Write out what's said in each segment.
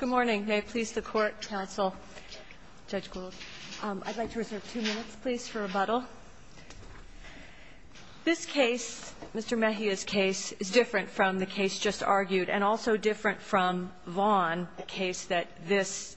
Good morning. May it please the court, counsel, Judge Gould. I'd like to reserve two minutes, please, for rebuttal. This case, Mr. Mejia's case, is different from the case just argued and also different from Vaughn, the case that this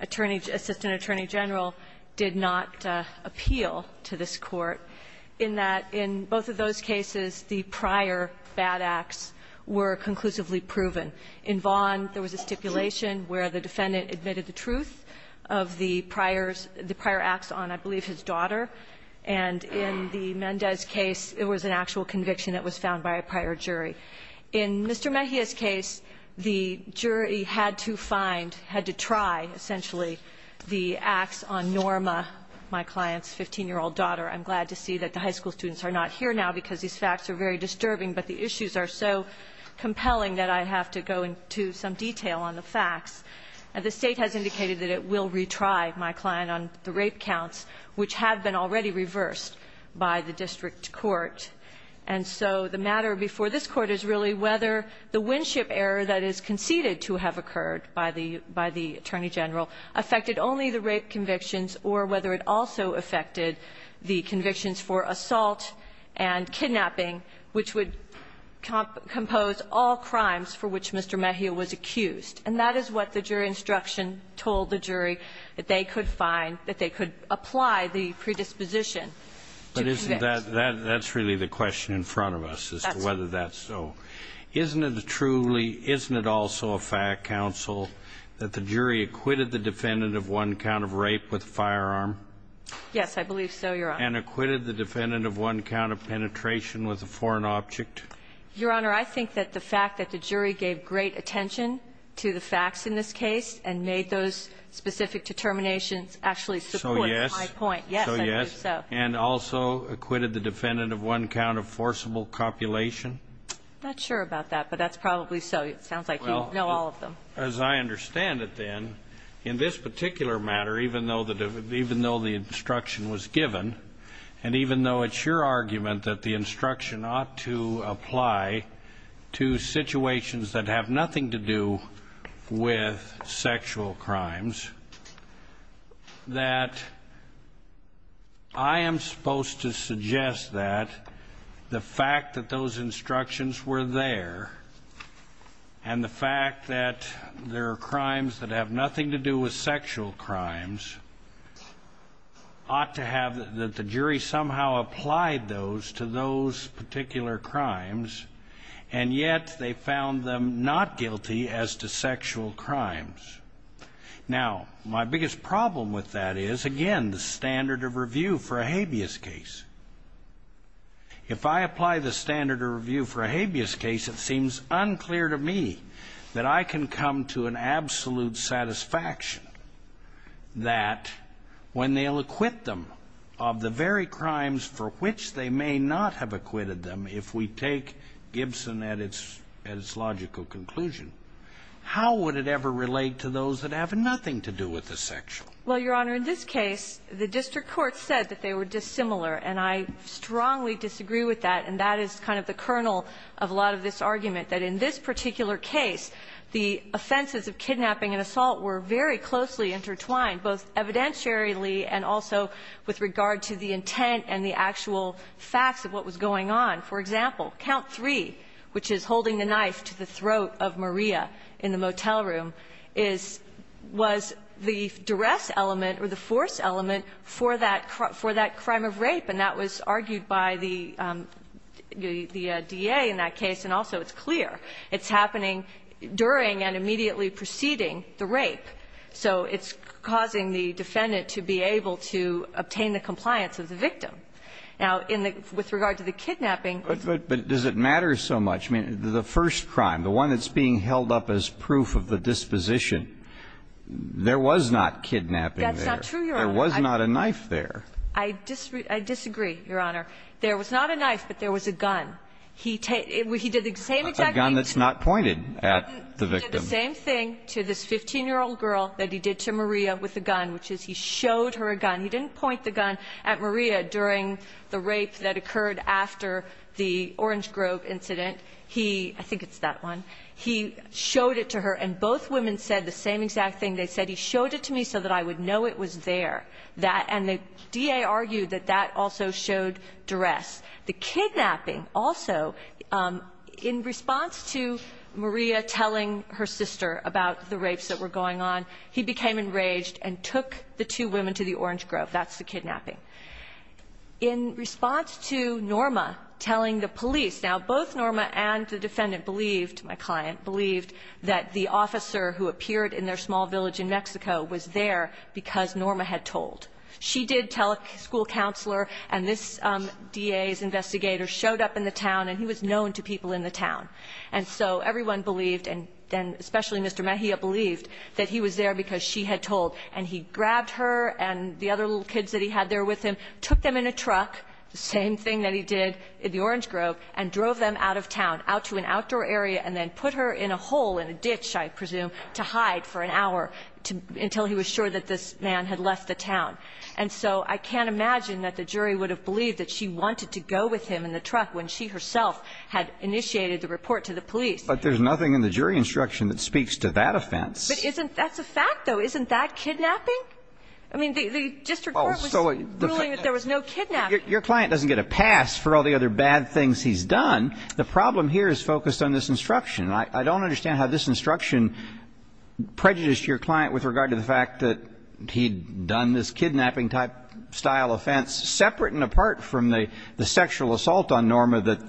attorney, assistant attorney general, did not appeal to this court, in that in both of those cases, the prior bad acts were conclusively proven. In Vaughn, there was a stipulation where the defendant admitted the truth of the prior acts on, I believe, his daughter. And in the Mendez case, it was an actual conviction that was found by a jury. In Mr. Mejia's case, the jury had to find, had to try, essentially, the acts on Norma, my client's 15-year-old daughter. I'm glad to see that the high school students are not here now because these facts are very disturbing, but the issues are so compelling that I have to go into some detail on the facts. And the State has indicated that it will retry my client on the rape counts, which have been already reversed by the district court. And so the matter before this Court is really whether the Winship error that is conceded to have occurred by the attorney general affected only the rape convictions or whether it also affected the convictions for assault and kidnapping, which would compose all crimes for which Mr. Mejia was accused. And that is what the jury instruction told the jury, that they could find by the predisposition to convict. But isn't that, that's really the question in front of us as to whether that's so. That's right. Isn't it truly, isn't it also a fact, counsel, that the jury acquitted the defendant of one count of rape with a firearm? Yes, I believe so, Your Honor. And acquitted the defendant of one count of penetration with a foreign object? And made those specific determinations actually support my point? So yes. Yes, I believe so. And also acquitted the defendant of one count of forcible copulation? I'm not sure about that, but that's probably so. It sounds like you know all of them. Well, as I understand it then, in this particular matter, even though the instruction was given, and even though it's your argument that the instruction ought to apply to situations that have nothing to do with sexual crimes, that I am supposed to suggest that the fact that those instructions were there and the fact that there are crimes that have nothing to do with sexual crimes ought to have, that the jury somehow applied those to those particular crimes, and yet they found them not guilty as to sexual crimes. Now, my biggest problem with that is, again, the standard of review for a habeas case. If I apply the standard of review for a habeas case, it seems unclear to me that I can come to an absolute satisfaction that when they'll acquit them of the very crimes for which they may not have acquitted them, if we take Gibson at its logical conclusion, how would it ever relate to those that have nothing to do with the sexual? Well, Your Honor, in this case, the district court said that they were dissimilar, and I strongly disagree with that. And that is kind of the kernel of a lot of this argument, that in this particular case, the offenses of kidnapping and assault were very closely intertwined, both For example, count 3, which is holding the knife to the throat of Maria in the motel room, was the duress element or the force element for that crime of rape, and that was argued by the DA in that case, and also it's clear. It's happening during and immediately preceding the rape. So it's causing the defendant to be able to obtain the compliance of the victim. Now, with regard to the kidnapping. But does it matter so much? I mean, the first crime, the one that's being held up as proof of the disposition, there was not kidnapping there. That's not true, Your Honor. There was not a knife there. I disagree, Your Honor. There was not a knife, but there was a gun. He did the same exact thing. A gun that's not pointed at the victim. He did the same thing to this 15-year-old girl that he did to Maria with a gun, which is he showed her a gun. He didn't point the gun at Maria during the rape that occurred after the Orange Grove incident. He, I think it's that one, he showed it to her, and both women said the same exact thing. They said, he showed it to me so that I would know it was there. That, and the DA argued that that also showed duress. The kidnapping also, in response to Maria telling her sister about the rapes that were going on, he became enraged and took the two women to the Orange Grove. That's the kidnapping. In response to Norma telling the police, now, both Norma and the defendant believed, my client believed, that the officer who appeared in their small village in Mexico was there because Norma had told. She did tell a school counselor, and this DA's investigator showed up in the town, and he was known to people in the town. And so everyone believed, and especially Mr. Mejia believed, that he was there because she had told. And he grabbed her and the other little kids that he had there with him, took them in a truck, the same thing that he did in the Orange Grove, and drove them out of town, out to an outdoor area, and then put her in a hole, in a ditch, I presume, to hide for an hour until he was sure that this man had left the town. And so I can't imagine that the jury would have believed that she wanted to go with him in the truck when she herself had initiated the report to the police. But there's nothing in the jury instruction that speaks to that offense. But isn't that's a fact, though. Isn't that kidnapping? I mean, the district court was ruling that there was no kidnapping. Your client doesn't get a pass for all the other bad things he's done. The problem here is focused on this instruction. I don't understand how this instruction prejudiced your client with regard to the fact that he'd done this kidnapping-type style offense, separate and apart from the sexual assault on Norma that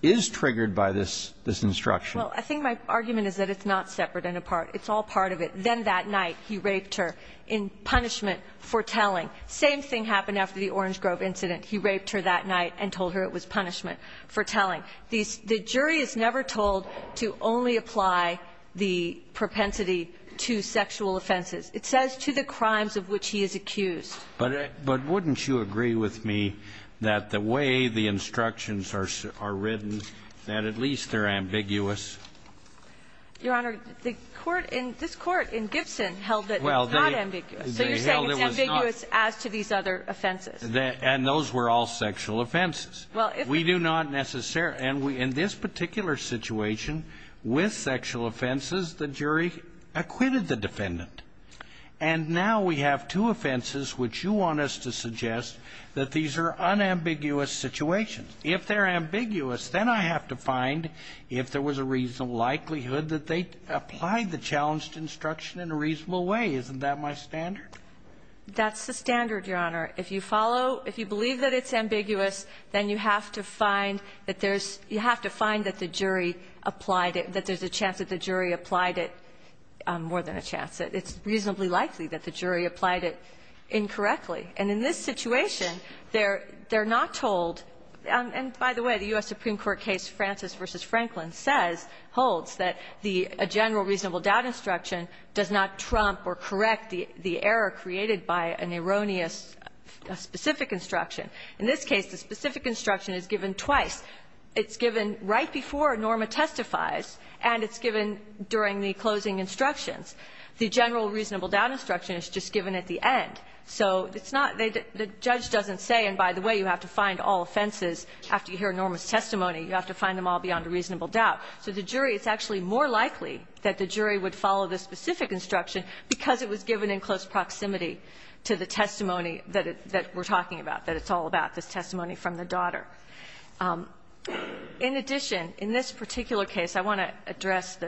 is triggered by this instruction. Well, I think my argument is that it's not separate and apart. It's all part of it. Then that night he raped her in punishment for telling. Same thing happened after the Orange Grove incident. He raped her that night and told her it was punishment for telling. The jury is never told to only apply the propensity to sexual offenses. It says to the crimes of which he is accused. But wouldn't you agree with me that the way the instructions are written, that at least they're ambiguous? Your Honor, the court in this court in Gibson held that it's not ambiguous. So you're saying it's ambiguous as to these other offenses. And those were all sexual offenses. We do not necessarily. And in this particular situation, with sexual offenses, the jury acquitted the defendant. And now we have two offenses which you want us to suggest that these are unambiguous situations. If they're ambiguous, then I have to find if there was a reasonable likelihood that they applied the challenged instruction in a reasonable way. Isn't that my standard? That's the standard, Your Honor. If you follow, if you believe that it's ambiguous, then you have to find that there's you have to find that the jury applied it, that there's a chance that the jury applied it more than a chance. It's reasonably likely that the jury applied it incorrectly. And in this situation, they're not told. And by the way, the U.S. Supreme Court case Francis v. Franklin says, holds, that the general reasonable doubt instruction does not trump or correct the error created by an erroneous specific instruction. In this case, the specific instruction is given twice. It's given right before Norma testifies, and it's given during the closing instructions. The general reasonable doubt instruction is just given at the end. So it's not the judge doesn't say, and by the way, you have to find all offenses after you hear Norma's testimony. You have to find them all beyond a reasonable doubt. So the jury, it's actually more likely that the jury would follow the specific instruction because it was given in close proximity to the testimony that we're talking about, that it's all about, this testimony from the daughter. In addition, in this particular case, I want to address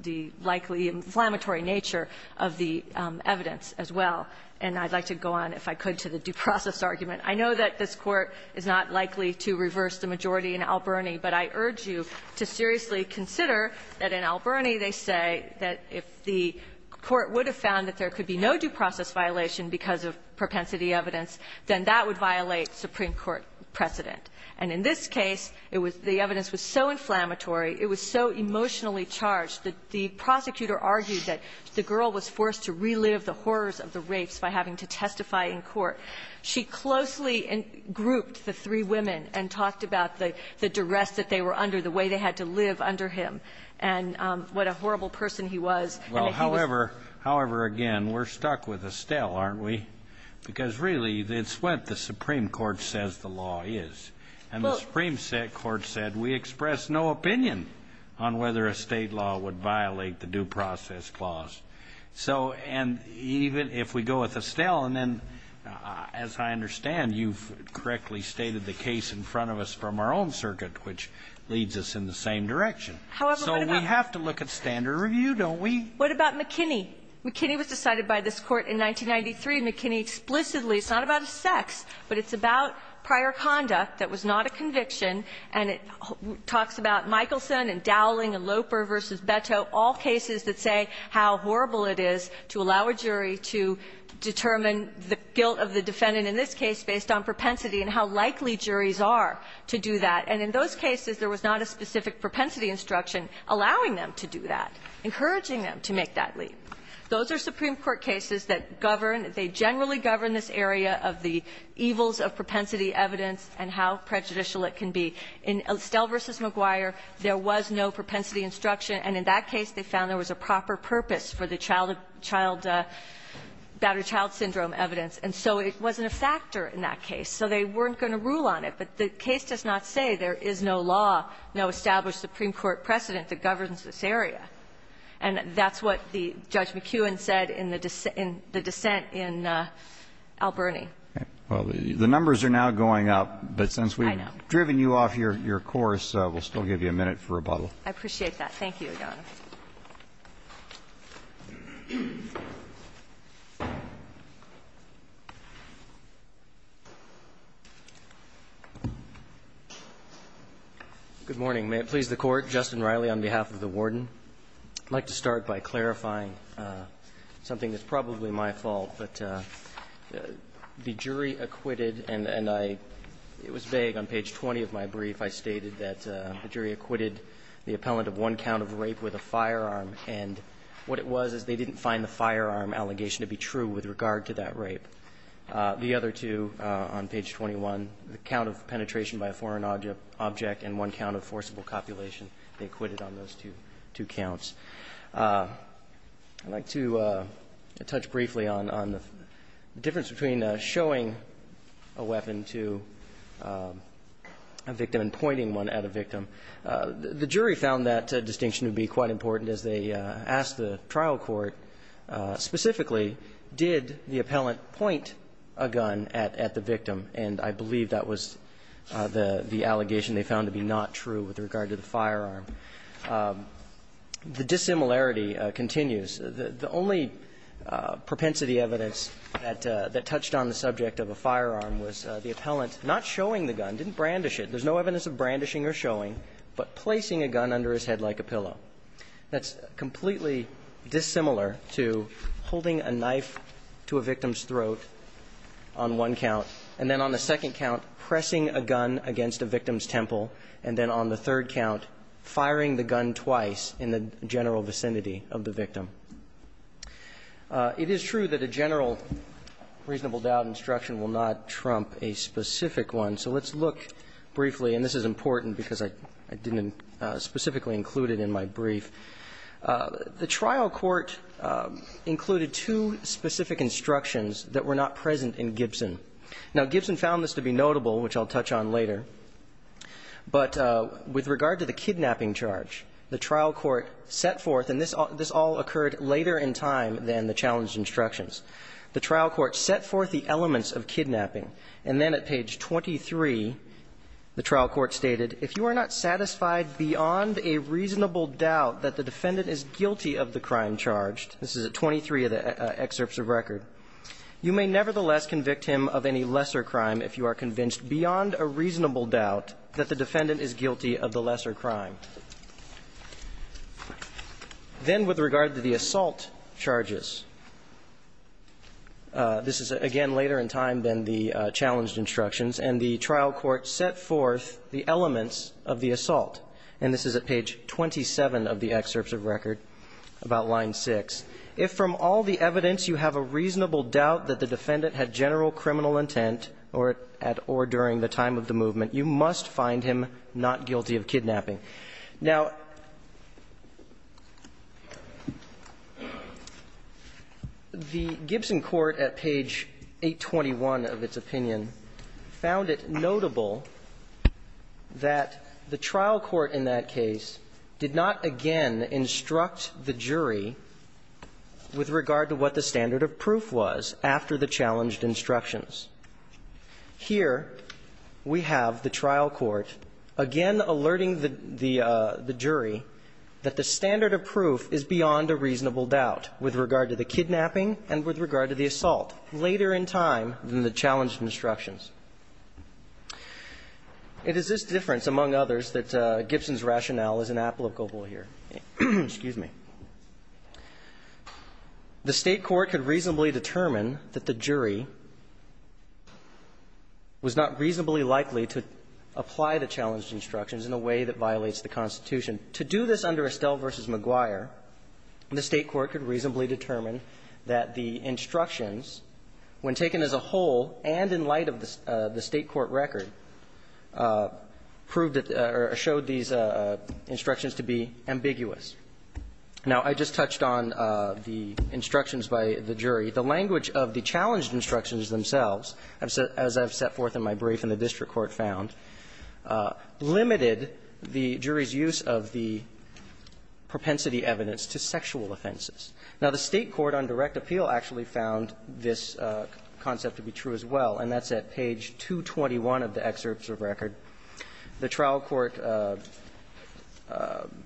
the likely inflammatory nature of the evidence as well. And I'd like to go on, if I could, to the due process argument. I know that this Court is not likely to reverse the majority in Alberni, but I urge you to seriously consider that in Alberni, they say that if the Court would have found that there could be no due process violation because of propensity evidence, then that would violate Supreme Court precedent. And in this case, it was the evidence was so inflammatory, it was so emotionally charged that the prosecutor argued that the girl was forced to relive the horrors of the rapes by having to testify in court. She closely grouped the three women and talked about the duress that they were under, the way they had to live under him, and what a horrible person he was. Well, however, however, again, we're stuck with Estelle, aren't we? Because, really, it's what the Supreme Court says the law is. And the Supreme Court said, we express no opinion on whether a State law would violate the due process clause. So, and even if we go with Estelle, and then, as I understand, you've correctly stated the case in front of us from our own circuit, which leads us in the same direction. So we have to look at standard review, don't we? What about McKinney? McKinney was decided by this Court in 1993, McKinney explicitly. It's not about sex, but it's about prior conduct that was not a conviction. And it talks about Michelson and Dowling and Loper v. Beto, all cases that say how horrible it is to allow a jury to determine the guilt of the defendant in this case based on propensity and how likely juries are to do that. And in those cases, there was not a specific propensity instruction allowing them to do that, encouraging them to make that leap. Those are Supreme Court cases that govern. They generally govern this area of the evils of propensity evidence and how prejudicial it can be. In Estelle v. McGuire, there was no propensity instruction, and in that case, they found there was a proper purpose for the child, child, battered child syndrome evidence. And so it wasn't a factor in that case, so they weren't going to rule on it. But the case does not say there is no law, no established Supreme Court precedent that governs this area. And that's what the Judge McKeown said in the dissent in Alberni. Well, the numbers are now going up, but since we've driven you off your course, we'll still give you a minute for rebuttal. I appreciate that. Thank you, Your Honor. Good morning. May it please the Court. Justin Riley on behalf of the Warden. I'd like to start by clarifying something that's probably my fault, but the jury acquitted, and I – it was vague. On page 20 of my brief, I stated that the jury acquitted the appellant of one count of rape with a firearm, and what it was is they didn't find the firearm allegation to be true with regard to that rape. The other two on page 21, the count of penetration by a foreign object and one count of forcible copulation, they acquitted on those two counts. I'd like to touch briefly on the difference between showing a weapon to a victim and pointing one at a victim. The jury found that distinction to be quite important as they asked the trial court, specifically, did the appellant point a gun at the victim, and I believe that was the allegation they found to be not true with regard to the firearm. The dissimilarity continues. The only propensity evidence that touched on the subject of a firearm was the appellant not showing the gun, didn't brandish it. There's no evidence of brandishing or showing, but placing a gun under his head like a pillow. That's completely dissimilar to holding a knife to a victim's throat on one count, and then on the second count, pressing a gun against a victim's temple, and then on the third count, firing the gun twice in the general vicinity of the victim. It is true that a general reasonable doubt instruction will not trump a specific one, so let's look briefly, and this is important because I didn't specifically include it in my brief. The trial court included two specific instructions that were not present in Gibson. Now, Gibson found this to be notable, which I'll touch on later, but with regard to the kidnapping charge, the trial court set forth, and this all occurred later in time than the challenge instructions. The trial court set forth the elements of kidnapping, and then at page 23, the trial court stated, If you are not satisfied beyond a reasonable doubt that the defendant is guilty of the crime charged, this is at 23 of the excerpts of record, you may nevertheless convict him of any lesser crime if you are convinced beyond a reasonable doubt that the defendant is guilty of the lesser crime. Then with regard to the assault charges, this is again later in time than the challenged instructions, and the trial court set forth the elements of the assault, and this is at page 27 of the excerpts of record about line 6. If from all the evidence you have a reasonable doubt that the defendant had general criminal intent at or during the time of the movement, you must find him not guilty of kidnapping. Now, the Gibson court at page 821 of its opinion found it notable that the trial court in that case did not again instruct the jury with regard to what the standard of proof was after the challenged instructions. Here we have the trial court again alerting the jury that the standard of proof is beyond a reasonable doubt with regard to the kidnapping and with regard to the assault later in time than the challenged instructions. It is this difference, among others, that Gibson's rationale is inapplicable here. Excuse me. The State court could reasonably determine that the jury was not reasonably likely to apply the challenged instructions in a way that violates the Constitution. To do this under Estelle v. McGuire, the State court could reasonably determine that the instructions, when taken as a whole and in light of the State court record, proved that or showed these instructions to be ambiguous. Now, I just touched on the instructions by the jury. The language of the challenged instructions themselves, as I've set forth in my brief in the district court found, limited the jury's use of the propensity evidence to sexual offenses. Now, the State court on direct appeal actually found this concept to be true as well, and that's at page 221 of the excerpt of record. The trial court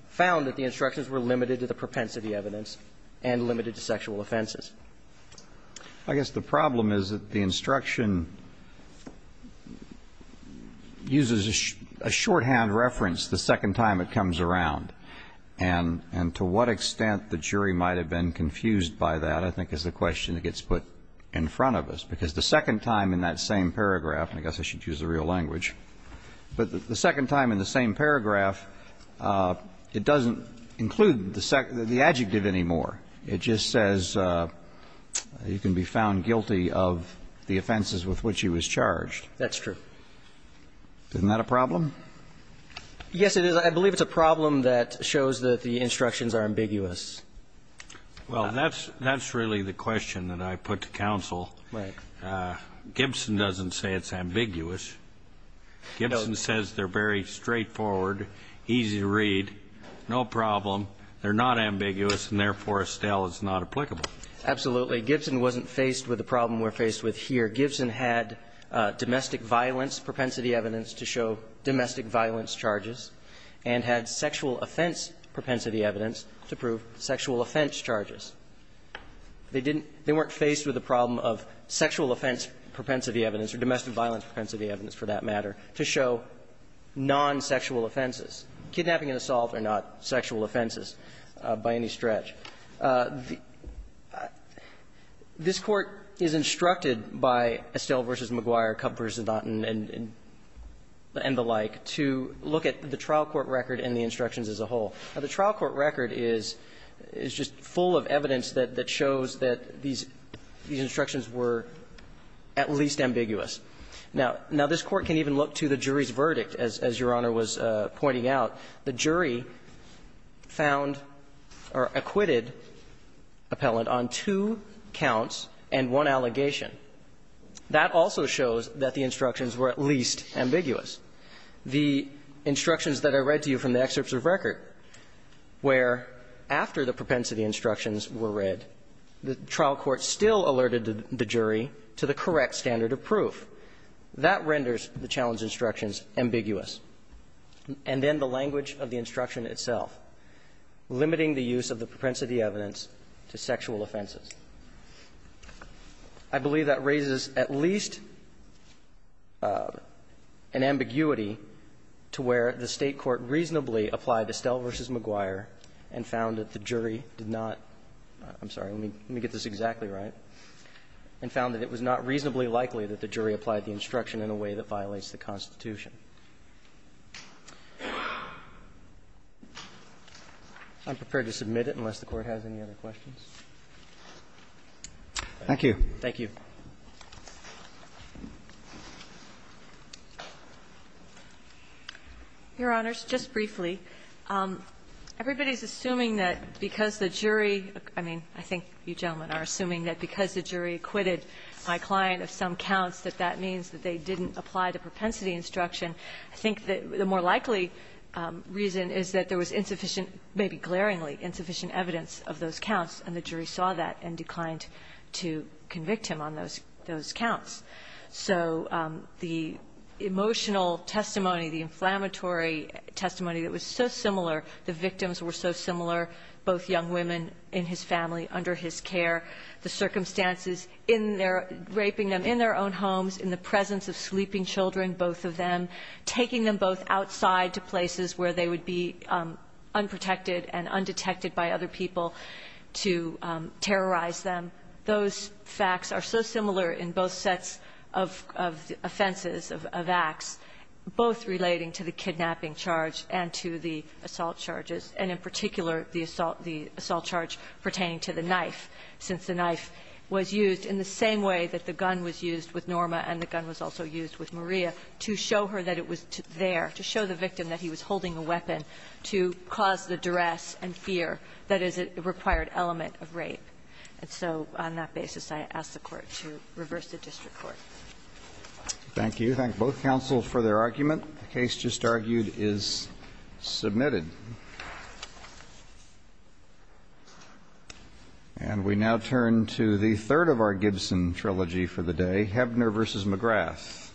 found that the instructions were limited to the propensity evidence and limited to sexual offenses. I guess the problem is that the instruction uses a shorthand reference the second time it comes around, and to what extent the jury might have been confused by that, I think, is the question that gets put in front of us, because the second time in that same paragraph, I guess I should use the real language, but the second time in the same paragraph, it doesn't include the adjective anymore. It just says you can be found guilty of the offenses with which he was charged. That's true. Isn't that a problem? Yes, it is. I believe it's a problem that shows that the instructions are ambiguous. Well, that's really the question that I put to counsel. Right. Gibson doesn't say it's ambiguous. Gibson says they're very straightforward, easy to read, no problem. They're not ambiguous, and therefore Estelle is not applicable. Absolutely. Gibson wasn't faced with the problem we're faced with here. Gibson had domestic violence propensity evidence to show domestic violence charges and had sexual offense propensity evidence to prove sexual offense charges. They didn't they weren't faced with the problem of sexual offense propensity evidence or domestic violence propensity evidence, for that matter, to show non-sexual offenses, kidnapping and assault are not sexual offenses by any stretch. This Court is instructed by Estelle v. McGuire, Kupfer, Zidot and the like to look at the trial court record and the instructions as a whole. Now, the trial court record is just full of evidence that shows that these instructions were at least ambiguous. Now, this Court can even look to the jury's verdict, as Your Honor was pointing out. The jury found or acquitted Appellant on two counts and one allegation. That also shows that the instructions were at least ambiguous. The instructions that I read to you from the excerpts of record where after the propensity instructions were read, the trial court still alerted the jury to the correct standard of proof. That renders the challenge instructions ambiguous. And then the language of the instruction itself, limiting the use of the propensity evidence to sexual offenses. I believe that raises at least an ambiguity to where the State court reasonably applied Estelle v. McGuire and found that the jury did not – I'm sorry, let me get this exactly right – and found that it was not reasonably likely that the jury applied the instruction in a way that violates the Constitution. I'm prepared to submit it unless the Court has any other questions. Thank you. Thank you. Your Honors, just briefly, everybody's assuming that because the jury – I mean, I think you gentlemen are assuming that because the jury acquitted my client of some counts that that means that they didn't apply the propensity instruction. I think that the more likely reason is that there was insufficient, maybe glaringly insufficient evidence of those counts, and the jury saw that and declined to convict him on those counts. So the emotional testimony, the inflammatory testimony that was so similar, the victims were so similar, both young women in his family, under his care, the circumstances in their – raping them in their own homes, in the presence of sleeping children, both of them, taking them both outside to places where they would be unprotected and undetected by other people to terrorize them. Those facts are so similar in both sets of offenses, of acts, both relating to the kidnapping charge and to the assault charges, and in particular, the assault – the assault charge pertaining to the knife, since the knife was used in the same way that the gun was used with Norma and the gun was also used with Maria, to show her that it was there, to show the victim that he was holding a weapon to cause the duress and fear that is a required element of rape. And so on that basis, I ask the Court to reverse the district court. Thank you. Thank both counsels for their argument. The case just argued is submitted. And we now turn to the third of our Gibson trilogy for the day, Hebner v. McGrath.